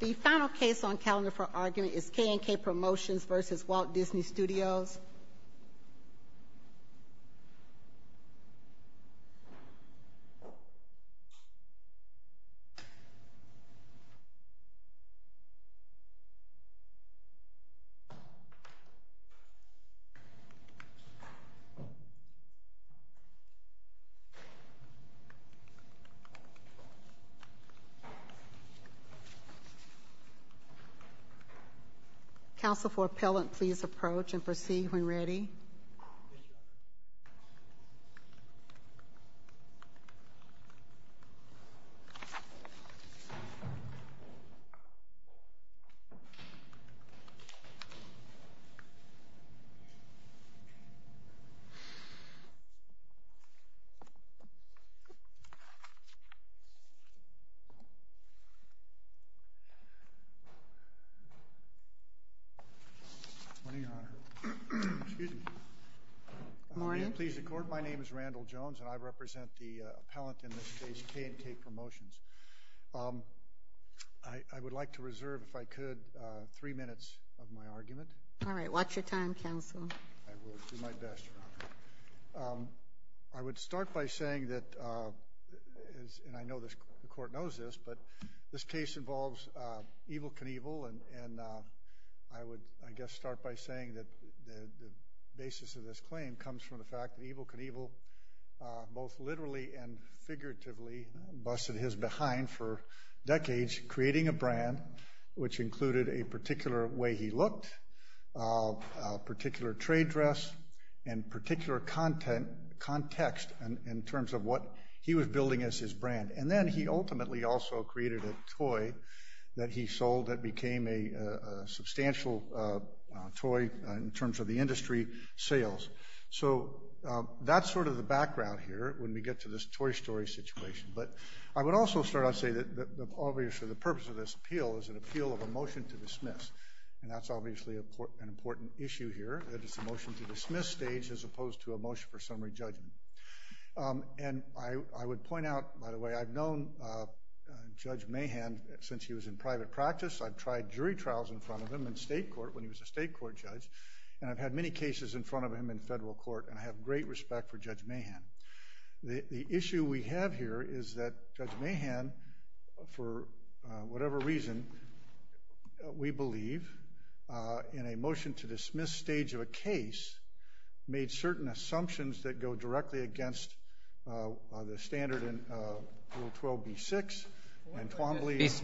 The final case on calendar for argument is KNK Promotions versus Walt Disney Studios. Counsel for appellant, please approach and proceed when ready. Good morning, Your Honor. Excuse me. Good morning. Will you please record? My name is Randall Jones, and I represent the appellant in this case, KNK Promotions. I would like to reserve, if I could, three minutes of my argument. All right. Watch your time, counsel. I will do my best, Your Honor. I would start by saying that, and I know the court knows this, but this case involves Evel Knievel, and I would, I guess, start by saying that the basis of this claim comes from the fact that Evel Knievel both literally and figuratively busted his behind for decades creating a brand which included a particular way he looked, a particular trade dress, and particular context in terms of what he was building as his brand. And then he ultimately also created a toy that he sold that became a substantial toy in terms of the industry sales. So that's sort of the background here when we get to this Toy Story situation. But I would also start out saying that obviously the purpose of this appeal is an appeal of a motion to dismiss. And that's obviously an important issue here, that it's a motion to dismiss stage as opposed to a motion for summary judgment. And I would point out, by the way, I've known Judge Mahan since he was in private practice. I've tried jury trials in front of him in state court when he was a state court judge, and I've had many cases in front of him in federal court, and I have great respect for Judge Mahan. The issue we have here is that Judge Mahan, for whatever reason, we believe in a motion to dismiss stage of a case, made certain assumptions that go directly against the standard in Rule 12b-6.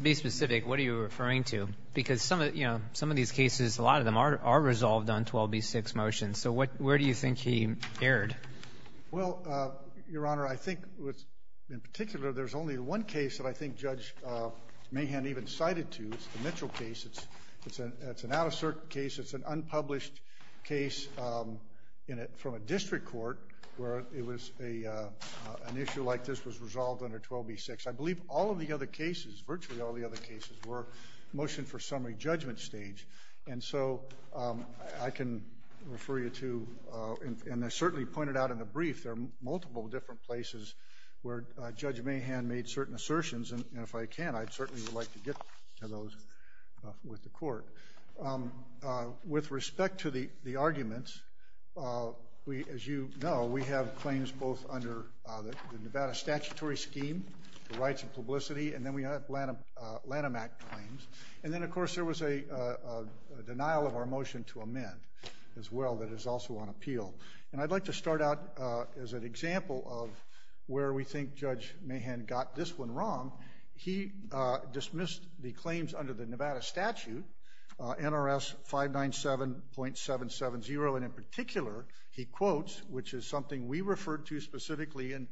Be specific. What are you referring to? Because some of these cases, a lot of them are resolved on 12b-6 motions. So where do you think he erred? Well, Your Honor, I think in particular there's only one case that I think Judge Mahan even cited to. It's the Mitchell case. It's an out-of-circuit case. It's an unpublished case from a district court where an issue like this was resolved under 12b-6. I believe all of the other cases, virtually all the other cases, were motion for summary judgment stage. And so I can refer you to, and I certainly pointed out in the brief, there are multiple different places where Judge Mahan made certain assertions, and if I can, I'd certainly like to get to those with the court. With respect to the arguments, as you know, we have claims both under the Nevada statutory scheme, the rights of publicity, and then we have Lanham Act claims. And then, of course, there was a denial of our motion to amend as well that is also on appeal. And I'd like to start out as an example of where we think Judge Mahan got this one wrong. He dismissed the claims under the Nevada statute, NRS 597.770, and in particular he quotes, which is something we referred to specifically in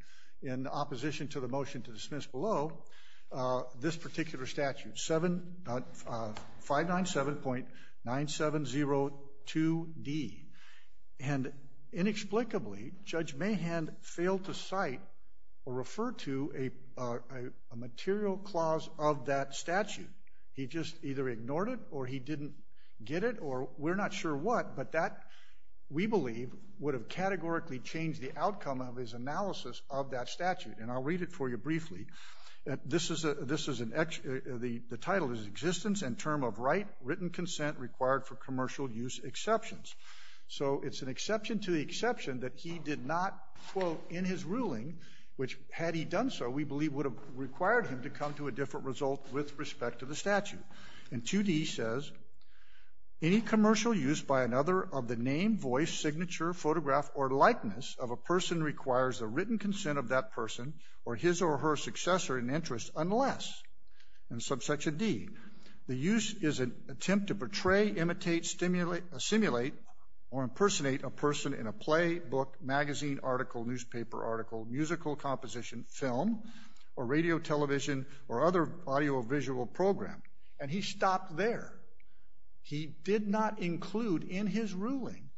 opposition to the motion to dismiss below, this particular statute, 597.9702D. And inexplicably, Judge Mahan failed to cite or refer to a material clause of that statute. He just either ignored it or he didn't get it or we're not sure what, but that, we believe, would have categorically changed the outcome of his analysis of that statute. And I'll read it for you briefly. The title is Existence and Term of Right, Written Consent Required for Commercial Use Exceptions. So it's an exception to the exception that he did not quote in his ruling, which had he done so, we believe would have required him to come to a different result with respect to the statute. And 2D says, Any commercial use by another of the name, voice, signature, photograph, or likeness of a person requires the written consent of that person or his or her successor in interest unless, in subsection D, the use is an attempt to portray, imitate, simulate, or impersonate a person in a play, book, magazine, article, newspaper article, musical composition, film, or radio, television, or other audiovisual program. And he stopped there. He did not include in his ruling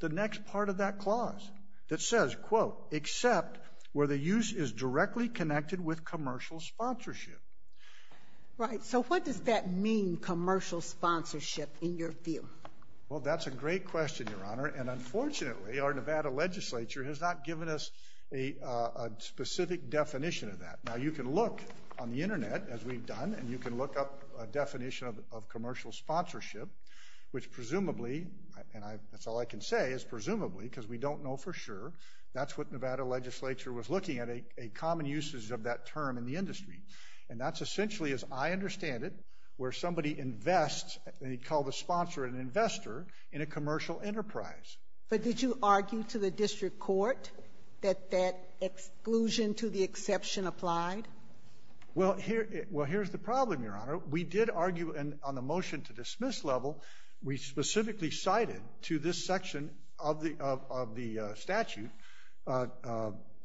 the next part of that clause that says, quote, except where the use is directly connected with commercial sponsorship. Right. So what does that mean, commercial sponsorship, in your view? Well, that's a great question, Your Honor. And unfortunately, our Nevada legislature has not given us a specific definition of that. Now, you can look on the Internet, as we've done, and you can look up a definition of commercial sponsorship, which presumably, and that's all I can say, is presumably, because we don't know for sure, that's what Nevada legislature was looking at, a common usage of that term in the industry. And that's essentially, as I understand it, where somebody invests, and he called the sponsor an investor, in a commercial enterprise. But did you argue to the district court that that exclusion to the exception applied? Well, here's the problem, Your Honor. We did argue on the motion to dismiss level. We specifically cited to this section of the statute,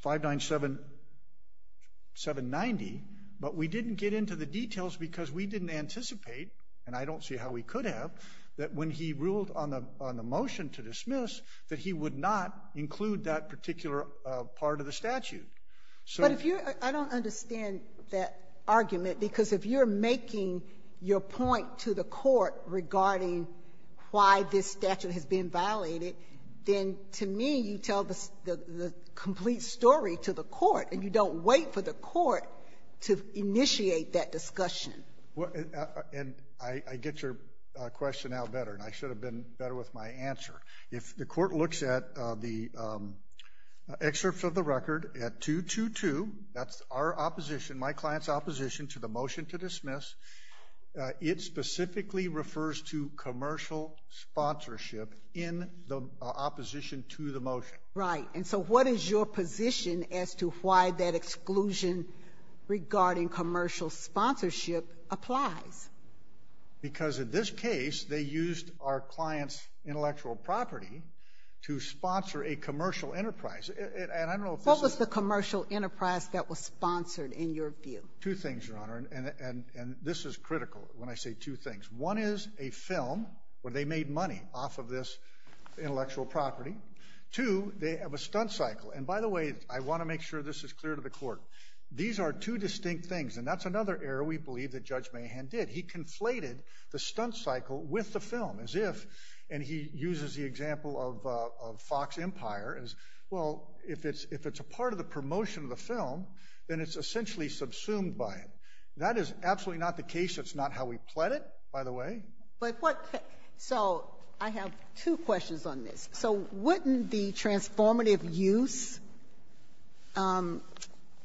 597-790, but we didn't get into the details because we didn't anticipate, and I don't see how we could have, that when he ruled on the motion to dismiss, that he would not include that particular part of the statute. But if you're — I don't understand that argument, because if you're making your point to the court regarding why this statute has been violated, then to me, you tell the complete story to the court, and you don't wait for the court to initiate that discussion. And I get your question now better, and I should have been better with my answer. If the court looks at the excerpts of the record at 222, that's our opposition, my client's opposition to the motion to dismiss, it specifically refers to commercial sponsorship in the opposition to the motion. Right, and so what is your position as to why that exclusion regarding commercial sponsorship applies? Because in this case, they used our client's intellectual property to sponsor a commercial enterprise, and I don't know if this is — What was the commercial enterprise that was sponsored, in your view? Two things, Your Honor, and this is critical when I say two things. One is a film where they made money off of this intellectual property. Two, they have a stunt cycle. And by the way, I want to make sure this is clear to the court. These are two distinct things, and that's another error we believe that Judge Mahan did. He conflated the stunt cycle with the film as if — and he uses the example of Fox Empire as, well, if it's a part of the promotion of the film, then it's essentially subsumed by it. That is absolutely not the case. That's not how we pled it, by the way. But what — so I have two questions on this. So wouldn't the transformative use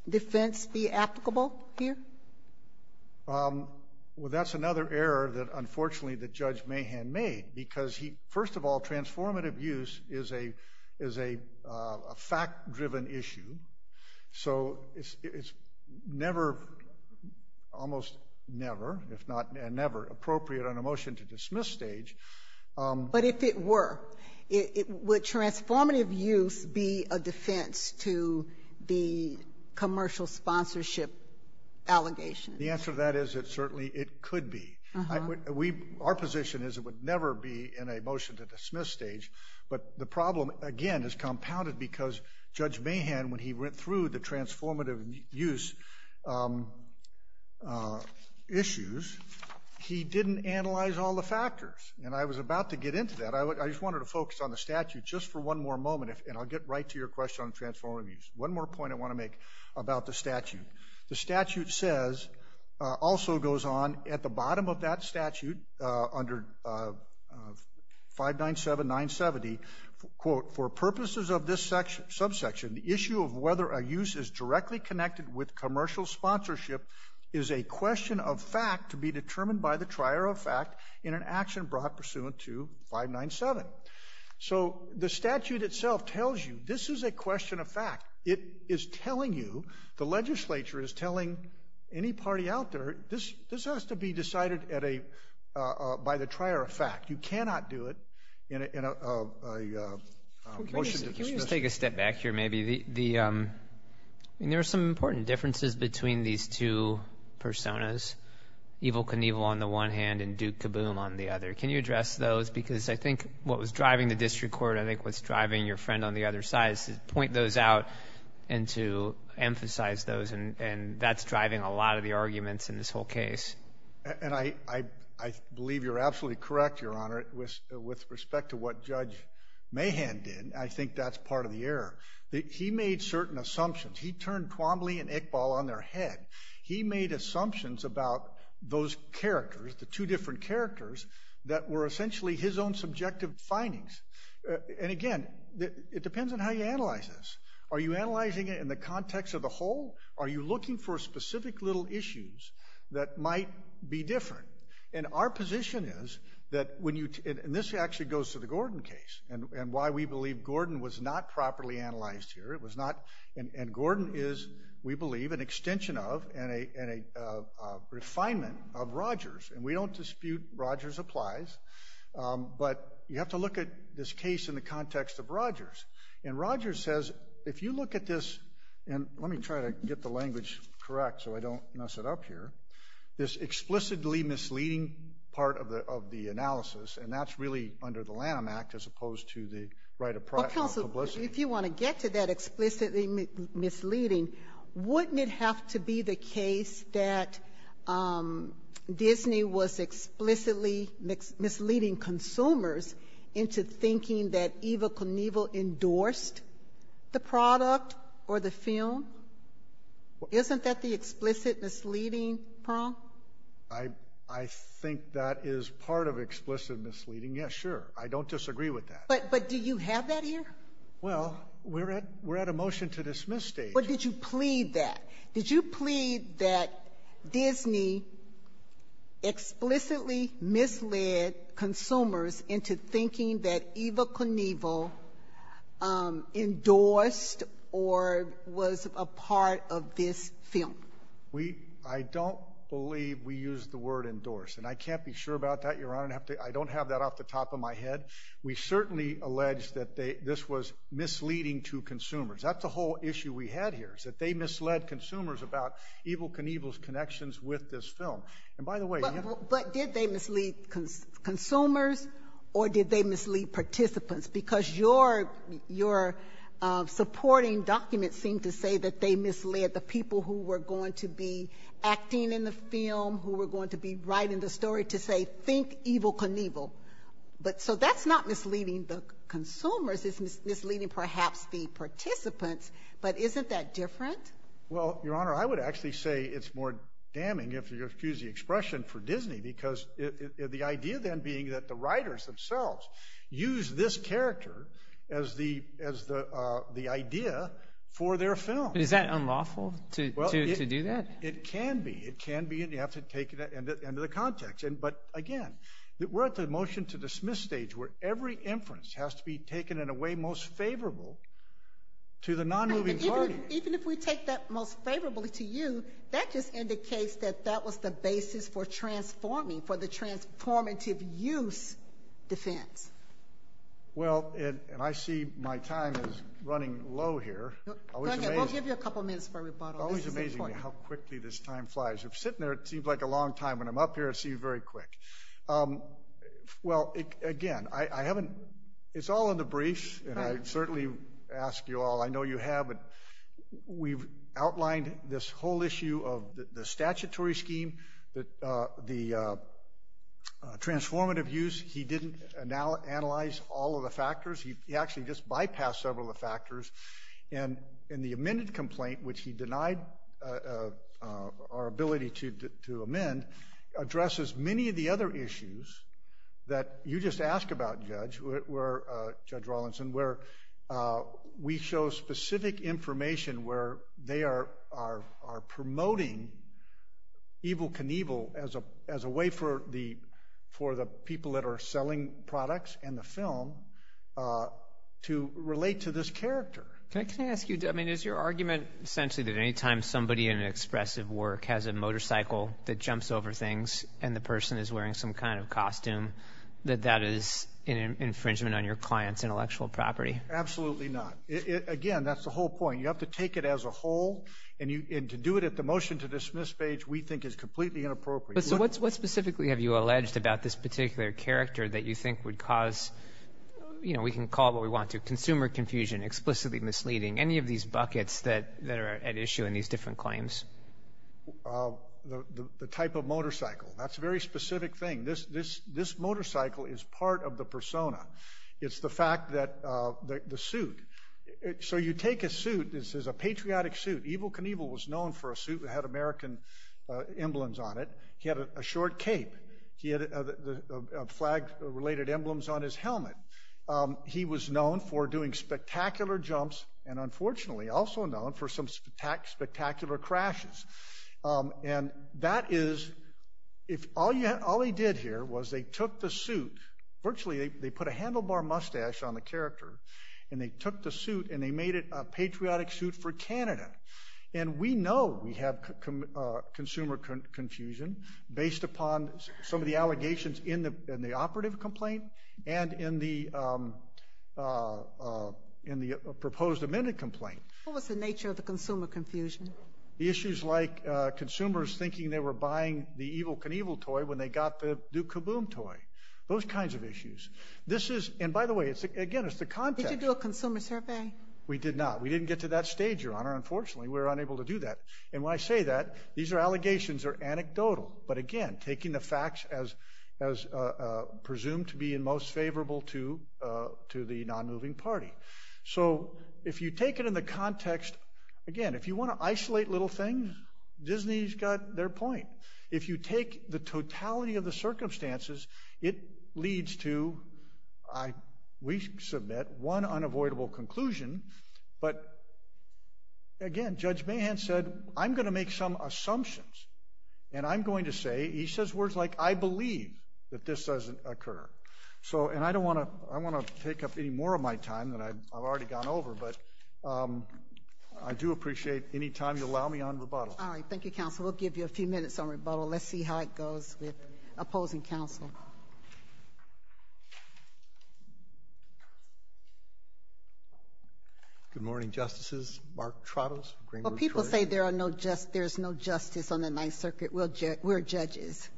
defense be applicable here? Well, that's another error that, unfortunately, that Judge Mahan made because he — first of all, transformative use is a fact-driven issue. So it's never, almost never, if not never appropriate on a motion-to-dismiss stage. But if it were, would transformative use be a defense to the commercial sponsorship allegations? The answer to that is that certainly it could be. Our position is it would never be in a motion-to-dismiss stage. But the problem, again, is compounded because Judge Mahan, when he went through the transformative use issues, he didn't analyze all the factors. And I was about to get into that. I just wanted to focus on the statute just for one more moment, and I'll get right to your question on transformative use. One more point I want to make about the statute. The statute says, also goes on at the bottom of that statute under 597-970, quote, for purposes of this subsection, the issue of whether a use is directly connected with commercial sponsorship is a question of fact to be determined by the trier of fact in an action brought pursuant to 597. So the statute itself tells you this is a question of fact. It is telling you, the legislature is telling any party out there, this has to be decided by the trier of fact. You cannot do it in a motion-to-dismiss. Can we just take a step back here maybe? There are some important differences between these two personas, Evel Knievel on the one hand and Duke Kaboom on the other. Can you address those? Because I think what was driving the district court, I think what's driving your friend on the other side, is to point those out and to emphasize those, and that's driving a lot of the arguments in this whole case. And I believe you're absolutely correct, Your Honor, with respect to what Judge Mahan did. And I think that's part of the error. He made certain assumptions. He turned Twombly and Iqbal on their head. He made assumptions about those characters, the two different characters, that were essentially his own subjective findings. And, again, it depends on how you analyze this. Are you analyzing it in the context of the whole? Are you looking for specific little issues that might be different? And our position is that when you – and this actually goes to the Gordon case and why we believe Gordon was not properly analyzed here. It was not – and Gordon is, we believe, an extension of and a refinement of Rogers. And we don't dispute Rogers applies. But you have to look at this case in the context of Rogers. And Rogers says, if you look at this – and let me try to get the language correct so I don't mess it up here. This explicitly misleading part of the analysis, and that's really under the Lanham Act as opposed to the right of publicity. Counsel, if you want to get to that explicitly misleading, wouldn't it have to be the case that Disney was explicitly misleading consumers into thinking that Eva Knievel endorsed the product or the film? Isn't that the explicit misleading, Pearl? I think that is part of explicit misleading, yes, sure. I don't disagree with that. But do you have that here? Well, we're at a motion to dismiss stage. But did you plead that? Did you plead that Disney explicitly misled consumers into thinking that Eva Knievel endorsed or was a part of this film? I don't believe we used the word endorsed. And I can't be sure about that, Your Honor. I don't have that off the top of my head. We certainly allege that this was misleading to consumers. That's the whole issue we had here, is that they misled consumers about Eva Knievel's connections with this film. But did they mislead consumers or did they mislead participants? Because your supporting documents seem to say that they misled the people who were going to be acting in the film, who were going to be writing the story, to say, think Eva Knievel. So that's not misleading the consumers. It's misleading perhaps the participants. But isn't that different? Well, Your Honor, I would actually say it's more damning if you use the expression for Disney because the idea then being that the writers themselves use this character as the idea for their film. Is that unlawful to do that? It can be. It can be, and you have to take it into the context. But, again, we're at the motion to dismiss stage where every inference has to be taken in a way most favorable to the non-moving party. Even if we take that most favorably to you, that just indicates that that was the basis for transforming, for the transformative use defense. Well, and I see my time is running low here. Go ahead. I'll give you a couple minutes for rebuttal. It's always amazing how quickly this time flies. Sitting there, it seems like a long time. When I'm up here, it seems very quick. Well, again, it's all in the briefs, and I certainly ask you all. We've outlined this whole issue of the statutory scheme, the transformative use. He didn't analyze all of the factors. He actually just bypassed several of the factors. And the amended complaint, which he denied our ability to amend, addresses many of the other issues that you just asked about, Judge Rawlinson, where we show specific information where they are promoting evil can evil as a way for the people that are selling products and the film to relate to this character. Can I ask you, I mean, is your argument essentially that any time somebody in an expressive work has a motorcycle that jumps over things and the person is wearing some kind of costume, that that is an infringement on your client's intellectual property? Absolutely not. Again, that's the whole point. You have to take it as a whole, and to do it at the motion-to-dismiss stage we think is completely inappropriate. So what specifically have you alleged about this particular character that you think would cause, you know, we can call it what we want to, consumer confusion, explicitly misleading, any of these buckets that are at issue in these different claims? The type of motorcycle. That's a very specific thing. This motorcycle is part of the persona. It's the fact that the suit, so you take a suit, this is a patriotic suit. Evil can evil was known for a suit that had American emblems on it. He had a short cape. He had flag-related emblems on his helmet. He was known for doing spectacular jumps and, unfortunately, also known for some spectacular crashes. And that is, all he did here was they took the suit, virtually they put a handlebar mustache on the character, and they took the suit and they made it a patriotic suit for Canada. And we know we have consumer confusion based upon some of the allegations in the operative complaint and in the proposed amended complaint. What was the nature of the consumer confusion? The issues like consumers thinking they were buying the evil can evil toy when they got the Duke Caboom toy. Those kinds of issues. This is, and by the way, again, it's the context. Did you do a consumer survey? We did not. We didn't get to that stage, Your Honor. Unfortunately, we were unable to do that. And when I say that, these allegations are anecdotal. But, again, taking the facts as presumed to be in most favorable to the non-moving party. So if you take it in the context, again, if you want to isolate little things, Disney's got their point. If you take the totality of the circumstances, it leads to, we submit, one unavoidable conclusion. But, again, Judge Mahan said, I'm going to make some assumptions. And I'm going to say, he says words like, I believe that this doesn't occur. So, and I don't want to, I don't want to take up any more of my time that I've already gone over. But I do appreciate any time you allow me on rebuttal. All right. Thank you, Counsel. We'll give you a few minutes on rebuttal. Let's see how it goes with opposing counsel. Good morning, Justices. Mark Trottos. People say there's no justice on the Ninth Circuit. We're judges.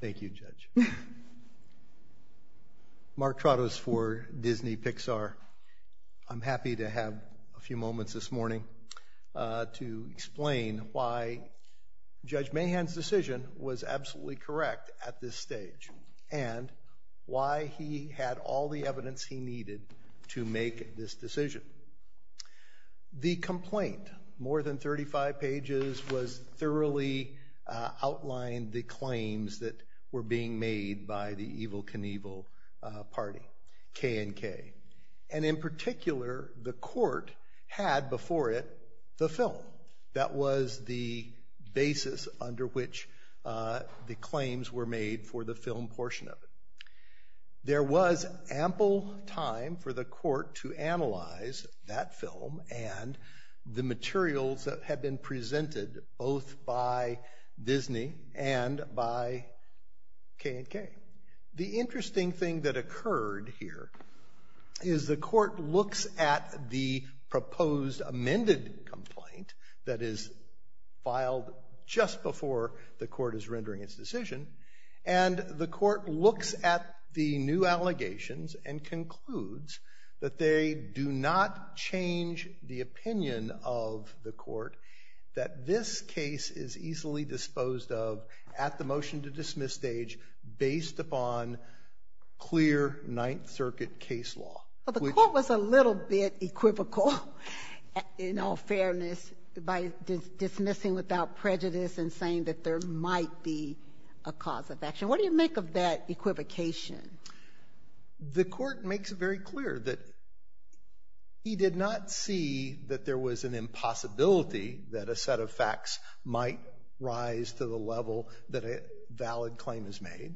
Thank you, Judge. Mark Trottos for Disney Pixar. I'm happy to have a few moments this morning to explain why Judge Mahan's decision was absolutely correct at this stage, and why he had all the evidence he needed to make this decision. The complaint, more than 35 pages, was thoroughly outlined, the claims that were being made by the Evel Knievel party, K and K. And in particular, the court had before it the film. That was the basis under which the claims were made for the film portion of it. There was ample time for the court to analyze that film and the materials that had been presented both by Disney and by K and K. The interesting thing that occurred here is the court looks at the proposed amended complaint that is filed just before the court is rendering its decision, and the court looks at the new allegations and concludes that they do not change the opinion of the court that this case is easily disposed of at the motion-to-dismiss stage based upon clear Ninth Circuit case law. The court was a little bit equivocal, in all fairness, by dismissing without prejudice and saying that there might be a cause of action. What do you make of that equivocation? The court makes it very clear that he did not see that there was an impossibility that a set of facts might rise to the level that a valid claim is made,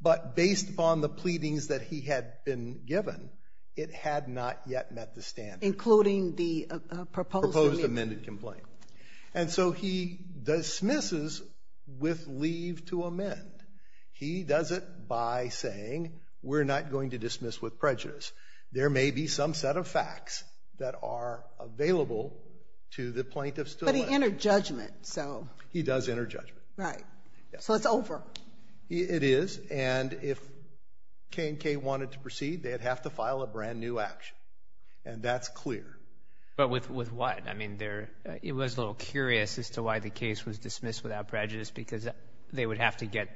but based upon the pleadings that he had been given, it had not yet met the standard. Including the proposed amended complaint. And so he dismisses with leave to amend. He does it by saying we're not going to dismiss with prejudice. There may be some set of facts that are available to the plaintiff still. But he entered judgment, so. He does enter judgment. Right. So it's over. It is, and if K and K wanted to proceed, they'd have to file a brand-new action, and that's clear. But with what? I mean, it was a little curious as to why the case was dismissed without prejudice, because they would have to get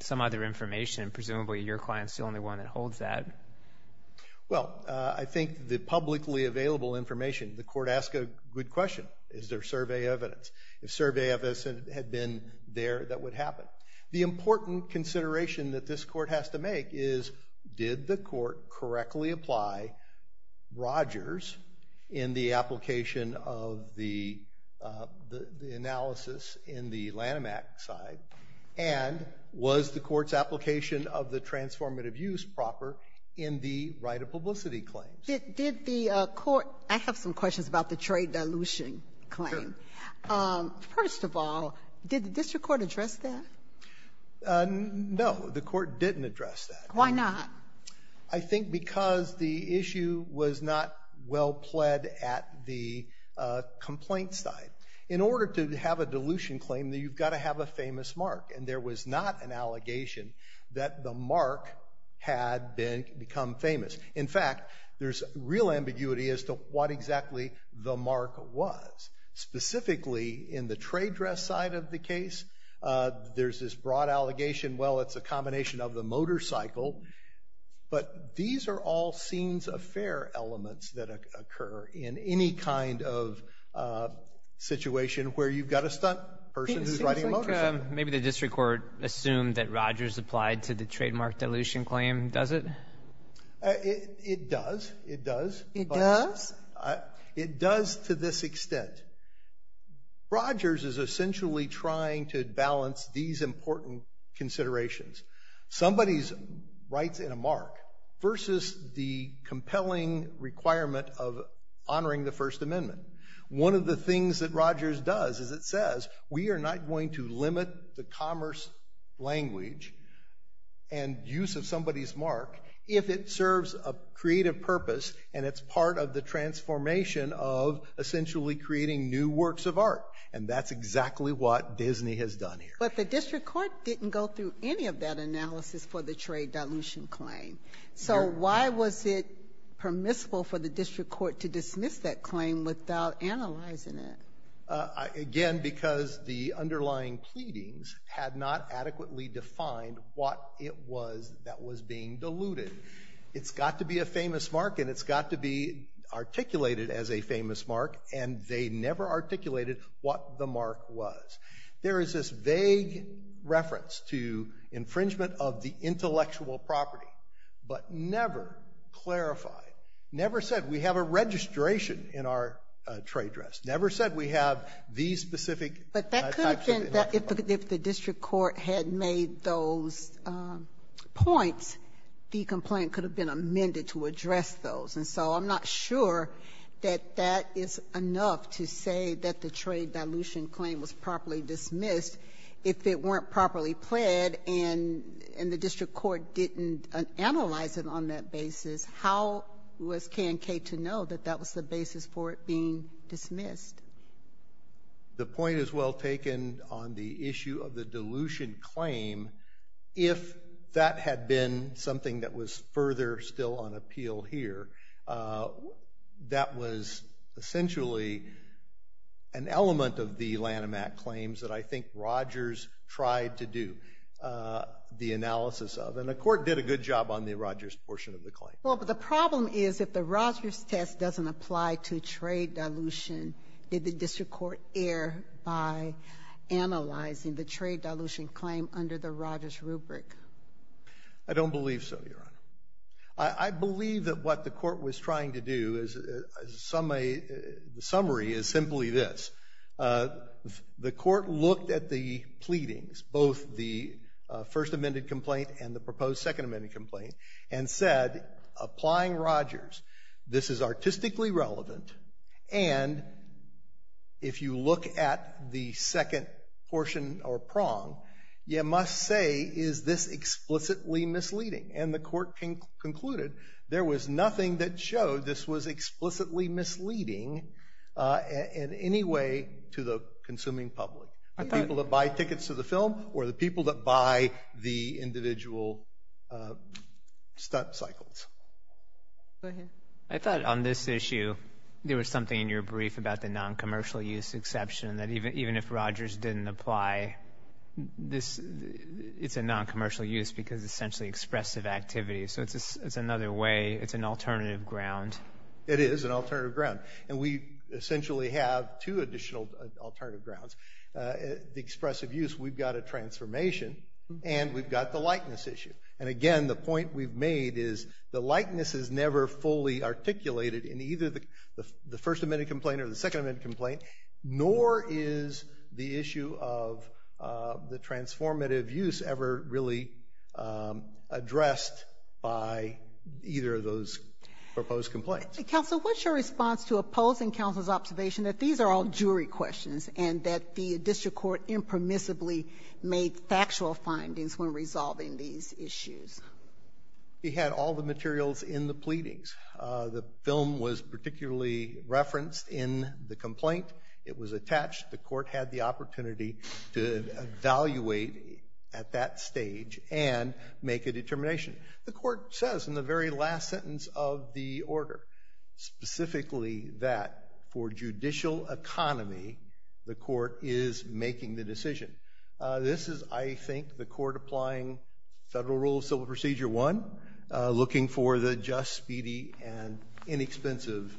some other information. Presumably your client's the only one that holds that. Well, I think the publicly available information, the court asked a good question. Is there survey evidence? If survey evidence had been there, that would happen. The important consideration that this court has to make is did the court correctly apply Rogers in the application of the analysis in the Lanham Act side, and was the court's application of the transformative use proper in the right of publicity claims? Did the court – I have some questions about the trade dilution claim. Sure. First of all, did the district court address that? No, the court didn't address that. Why not? I think because the issue was not well pled at the complaint side. In order to have a dilution claim, you've got to have a famous mark, and there was not an allegation that the mark had become famous. In fact, there's real ambiguity as to what exactly the mark was. Specifically, in the trade dress side of the case, there's this broad allegation, well, it's a combination of the motorcycle. But these are all scenes of fair elements that occur in any kind of situation where you've got a stunt person who's riding a motorcycle. It seems like maybe the district court assumed that Rogers applied to the trademark dilution claim. Does it? It does. It does. It does? It does to this extent. Rogers is essentially trying to balance these important considerations. Somebody writes in a mark versus the compelling requirement of honoring the First Amendment. One of the things that Rogers does is it says we are not going to limit the commerce language and use of somebody's mark if it serves a creative purpose and it's part of the transformation of essentially creating new works of art. And that's exactly what Disney has done here. But the district court didn't go through any of that analysis for the trade dilution claim. So why was it permissible for the district court to dismiss that claim without analyzing it? Again, because the underlying pleadings had not adequately defined what it was that was being diluted. It's got to be a famous mark and it's got to be articulated as a famous mark and they never articulated what the mark was. There is this vague reference to infringement of the intellectual property, but never clarified. Never said we have a registration in our trade dress. Never said we have these specific types of intellectual property. But that could have been, if the district court had made those points, the complaint could have been amended to address those. And so I'm not sure that that is enough to say that the trade dilution claim was properly dismissed if it weren't properly pled and the district court didn't analyze it on that basis. How was KNK to know that that was the basis for it being dismissed? The point is well taken on the issue of the dilution claim. If that had been something that was further still on appeal here, that was essentially an element of the Lanham Act claims that I think Rogers tried to do the analysis of. And the court did a good job on the Rogers portion of the claim. Well, but the problem is if the Rogers test doesn't apply to trade dilution, did the district court err by analyzing the trade dilution claim under the Rogers rubric? I don't believe so, Your Honor. I believe that what the court was trying to do as a summary is simply this. The court looked at the pleadings, both the first amended complaint and the proposed second amended complaint, and said applying Rogers, this is artistically relevant. And if you look at the second portion or prong, you must say is this explicitly misleading? And the court concluded there was nothing that showed this was explicitly misleading in any way to the consuming public, the people that buy tickets to the film or the people that buy the individual stunt cycles. Go ahead. I thought on this issue there was something in your brief about the noncommercial use exception, that even if Rogers didn't apply, it's a noncommercial use because it's essentially expressive activity. So it's another way, it's an alternative ground. It is an alternative ground. And we essentially have two additional alternative grounds. The expressive use, we've got a transformation, and we've got the likeness issue. And, again, the point we've made is the likeness is never fully articulated in either the first amended complaint or the second amended complaint, nor is the issue of the transformative use ever really addressed by either of those proposed complaints. Counsel, what's your response to opposing counsel's observation that these are all jury questions and that the district court impermissibly made factual findings when resolving these issues? We had all the materials in the pleadings. The film was particularly referenced in the complaint. It was attached. The court had the opportunity to evaluate at that stage and make a determination. The court says in the very last sentence of the order specifically that for judicial economy, the court is making the decision. This is, I think, the court applying Federal Rule of Civil Procedure I, looking for the just, speedy, and inexpensive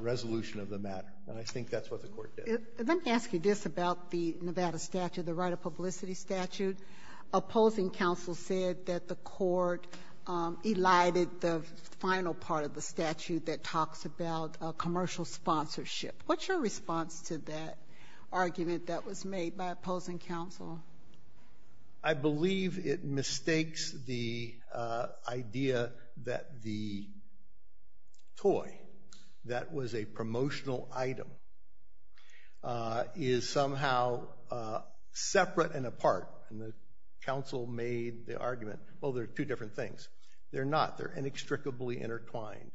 resolution of the matter. And I think that's what the court did. Let me ask you this about the Nevada statute, the right of publicity statute. Opposing counsel said that the court elided the final part of the statute that talks about commercial sponsorship. What's your response to that argument that was made by opposing counsel? I believe it mistakes the idea that the toy that was a promotional item is somehow separate and apart. Counsel made the argument, well, they're two different things. They're not. They're inextricably intertwined.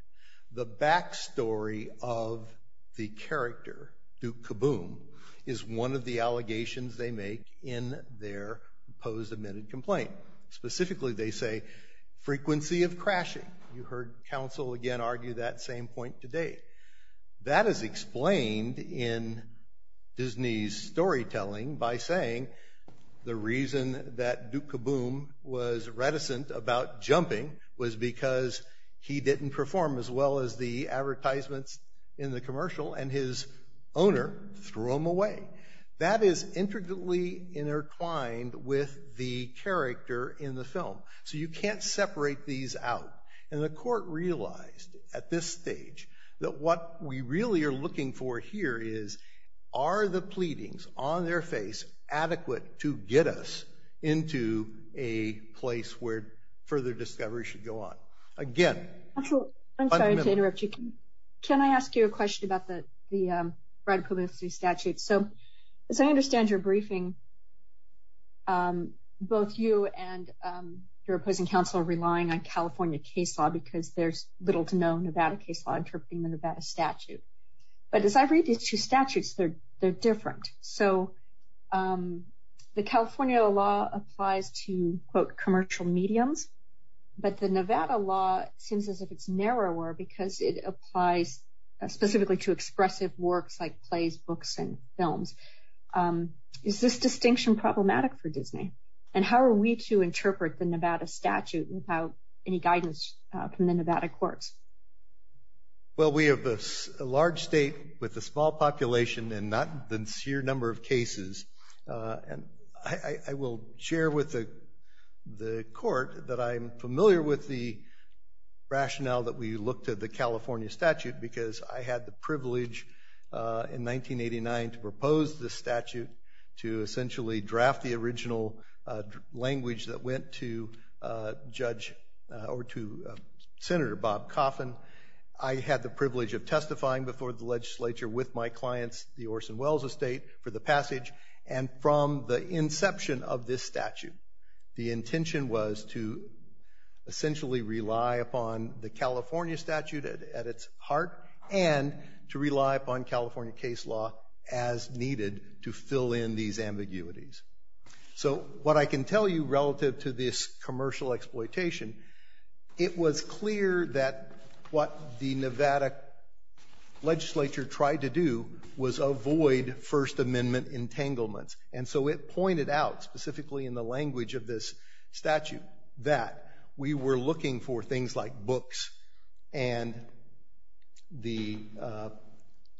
The back story of the character, Duke Caboom, is one of the allegations they make in their opposed admitted complaint. Specifically, they say frequency of crashing. You heard counsel, again, argue that same point today. That is explained in Disney's storytelling by saying the reason that Duke Caboom was reticent about jumping was because he didn't perform as well as the advertisements in the commercial and his owner threw him away. That is intricately intertwined with the character in the film. So you can't separate these out. And the court realized at this stage that what we really are looking for here is, are the pleadings on their face adequate to get us into a place where further discovery should go on? Again, fundamental. I'm sorry to interrupt you. Can I ask you a question about the right of publicity statute? So as I understand your briefing, both you and your opposing counsel are relying on California case law because there's little to no Nevada case law interpreting the Nevada statute. But as I read these two statutes, they're different. So the California law applies to, quote, commercial mediums. But the Nevada law seems as if it's narrower because it applies specifically to expressive works like plays, books, and films. Is this distinction problematic for Disney? And how are we to interpret the Nevada statute without any guidance from the Nevada courts? Well, we have a large state with a small population and not the sheer number of cases. And I will share with the court that I'm familiar with the rationale that we looked at the California statute because I had the privilege in 1989 to propose the statute to essentially draft the original language that went to Judge or to Senator Bob Coffin. I had the privilege of testifying before the legislature with my clients, the Orson Welles Estate, for the passage. And from the inception of this statute, the intention was to essentially rely upon the California statute at its heart and to rely upon California case law as needed to fill in these ambiguities. So what I can tell you relative to this commercial exploitation, it was clear that what the Nevada legislature tried to do was avoid First Amendment entanglements. And so it pointed out, specifically in the language of this statute, that we were looking for things like books and the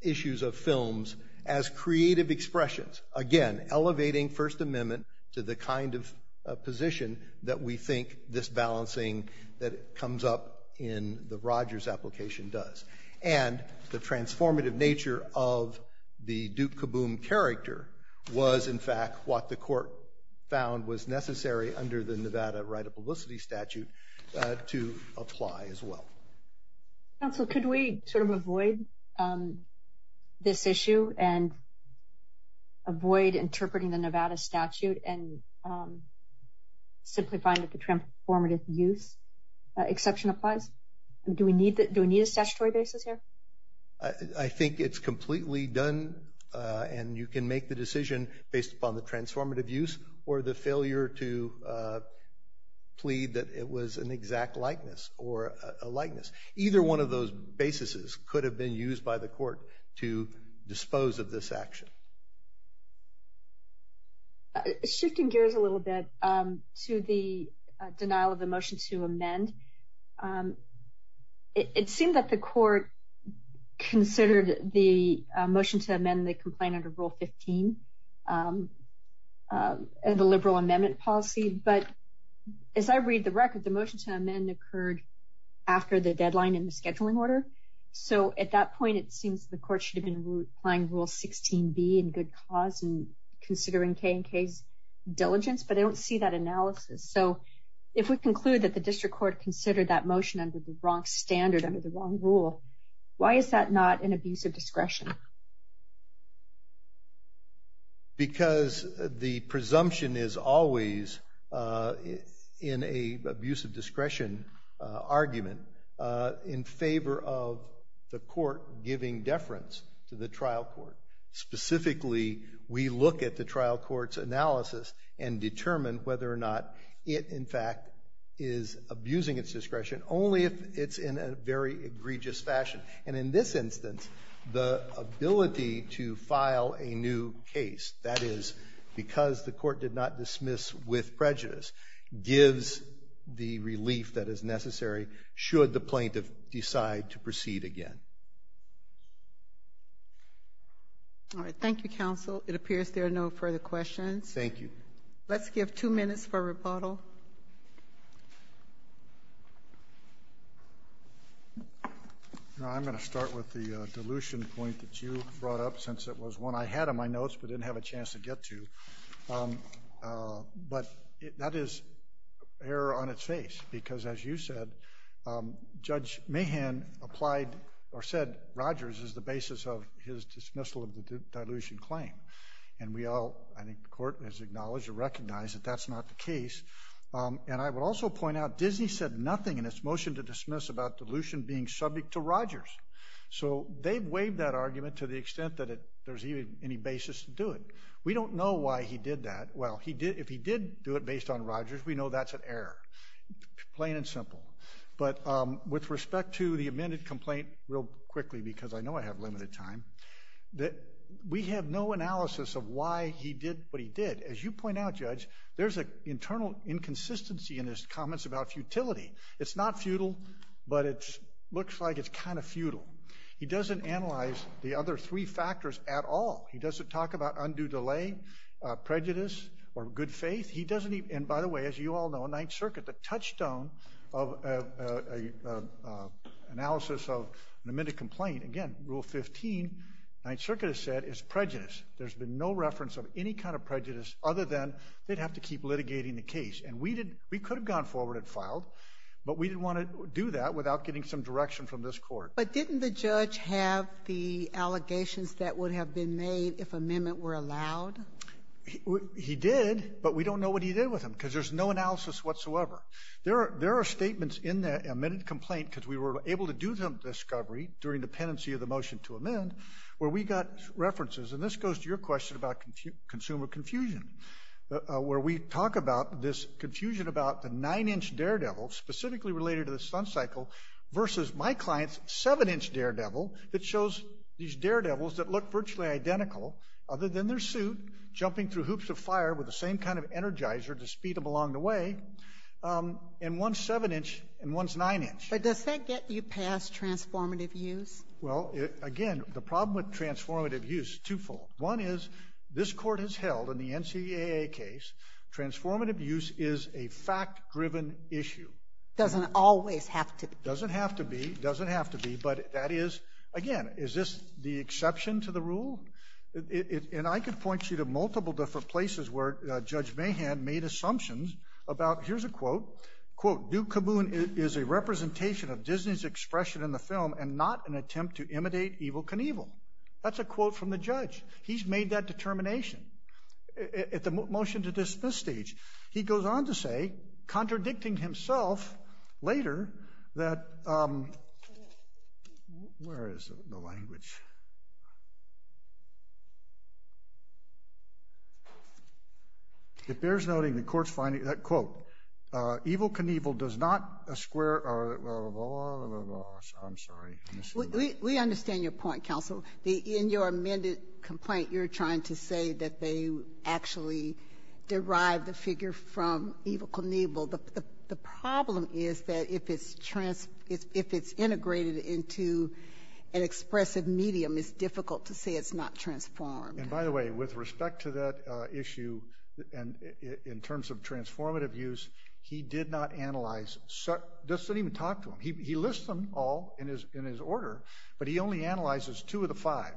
issues of films as creative expressions. Again, elevating First Amendment to the kind of position that we think this balancing that comes up in the Rogers application does. And the transformative nature of the Duke Caboom character was, in fact, what the court found was necessary under the Nevada right of publicity statute to apply as well. Counsel, could we sort of avoid this issue and avoid interpreting the Nevada statute and simply find that the transformative use exception applies? Do we need a statutory basis here? I think it's completely done, and you can make the decision based upon the transformative use or the failure to plead that it was an exact likeness or a likeness. Either one of those basis could have been used by the court to dispose of this action. Shifting gears a little bit to the denial of the motion to amend, it seemed that the court considered the motion to amend the complaint under Rule 15, the liberal amendment policy. But as I read the record, the motion to amend occurred after the deadline in the scheduling order. So at that point, it seems the court should have been applying Rule 16B in good cause and considering K&K's diligence, but I don't see that analysis. So if we conclude that the district court considered that motion under the wrong standard, under the wrong rule, why is that not an abuse of discretion? Because the presumption is always, in an abuse of discretion argument, in favor of the court giving deference to the trial court. Specifically, we look at the trial court's analysis and determine whether or not it, in fact, is abusing its discretion only if it's in a very egregious fashion. And in this instance, the ability to file a new case, that is, because the court did not dismiss with prejudice, gives the relief that is necessary should the plaintiff decide to proceed again. All right, thank you, counsel. It appears there are no further questions. Thank you. Let's give two minutes for rebuttal. I'm going to start with the dilution point that you brought up since it was one I had in my notes but didn't have a chance to get to. But that is error on its face because, as you said, Judge Mahan applied or said Rogers is the basis of his dismissal of the dilution claim. And we all, I think, the court has acknowledged or recognized that that's not the case. And I would also point out Disney said nothing in its motion to dismiss about dilution being subject to Rogers. So they've waived that argument to the extent that there's even any basis to do it. We don't know why he did that. Well, if he did do it based on Rogers, we know that's an error, plain and simple. But with respect to the amended complaint, real quickly because I know I have limited time, we have no analysis of why he did what he did. As you point out, Judge, there's an internal inconsistency in his comments about futility. It's not futile, but it looks like it's kind of futile. He doesn't analyze the other three factors at all. He doesn't talk about undue delay, prejudice, or good faith. And, by the way, as you all know, Ninth Circuit, the touchstone of analysis of an amended complaint, again, Rule 15, Ninth Circuit has said it's prejudice. There's been no reference of any kind of prejudice other than they'd have to keep litigating the case. And we could have gone forward and filed, but we didn't want to do that without getting some direction from this court. But didn't the judge have the allegations that would have been made if amendment were allowed? He did, but we don't know what he did with them because there's no analysis whatsoever. There are statements in the amended complaint because we were able to do some discovery during dependency of the motion to amend where we got references, and this goes to your question about consumer confusion, where we talk about this confusion about the nine-inch daredevil, specifically related to the stunt cycle, versus my client's seven-inch daredevil that shows these daredevils that look virtually identical, other than their suit, jumping through hoops of fire with the same kind of energizer to speed them along the way, and one's seven-inch and one's nine-inch. But does that get you past transformative use? Well, again, the problem with transformative use is twofold. One is this court has held in the NCAA case transformative use is a fact-driven issue. It doesn't always have to be. It doesn't have to be. It doesn't have to be, but that is, again, is this the exception to the rule? And I could point you to multiple different places where Judge Mahan made assumptions about, here's a quote, quote, Duke Caboon is a representation of Disney's expression in the film and not an attempt to imitate Evil Knievel. That's a quote from the judge. He's made that determination. At the motion to dismiss stage, he goes on to say, contradicting himself later, that, where is the language? It bears noting the court's finding that, quote, Evil Knievel does not square, blah, blah, blah, blah, blah. I'm sorry. We understand your point, counsel. In your amended complaint, you're trying to say that they actually derived the figure from Evil Knievel. The problem is that if it's integrated into an expressive medium, it's difficult to say it's not transformed. And, by the way, with respect to that issue and in terms of transformative use, he did not analyze, just didn't even talk to him. He lists them all in his order, but he only analyzes two of the five.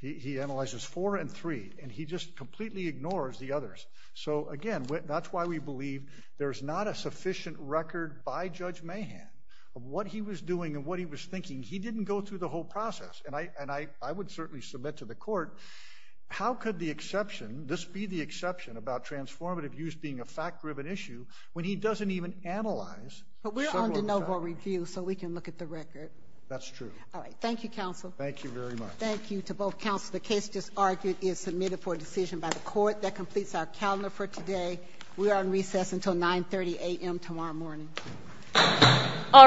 He analyzes four and three, and he just completely ignores the others. So, again, that's why we believe there's not a sufficient record by Judge Mahan of what he was doing and what he was thinking. He didn't go through the whole process, and I would certainly submit to the court, how could the exception, this be the exception about transformative use being a fact-driven issue when he doesn't even analyze several of them? But we're on de novo review, so we can look at the record. That's true. All right. Thank you, counsel. Thank you very much. Thank you to both counsel. The case just argued is submitted for decision by the court. That completes our calendar for today. We are on recess until 9.30 a.m. tomorrow morning. All rise.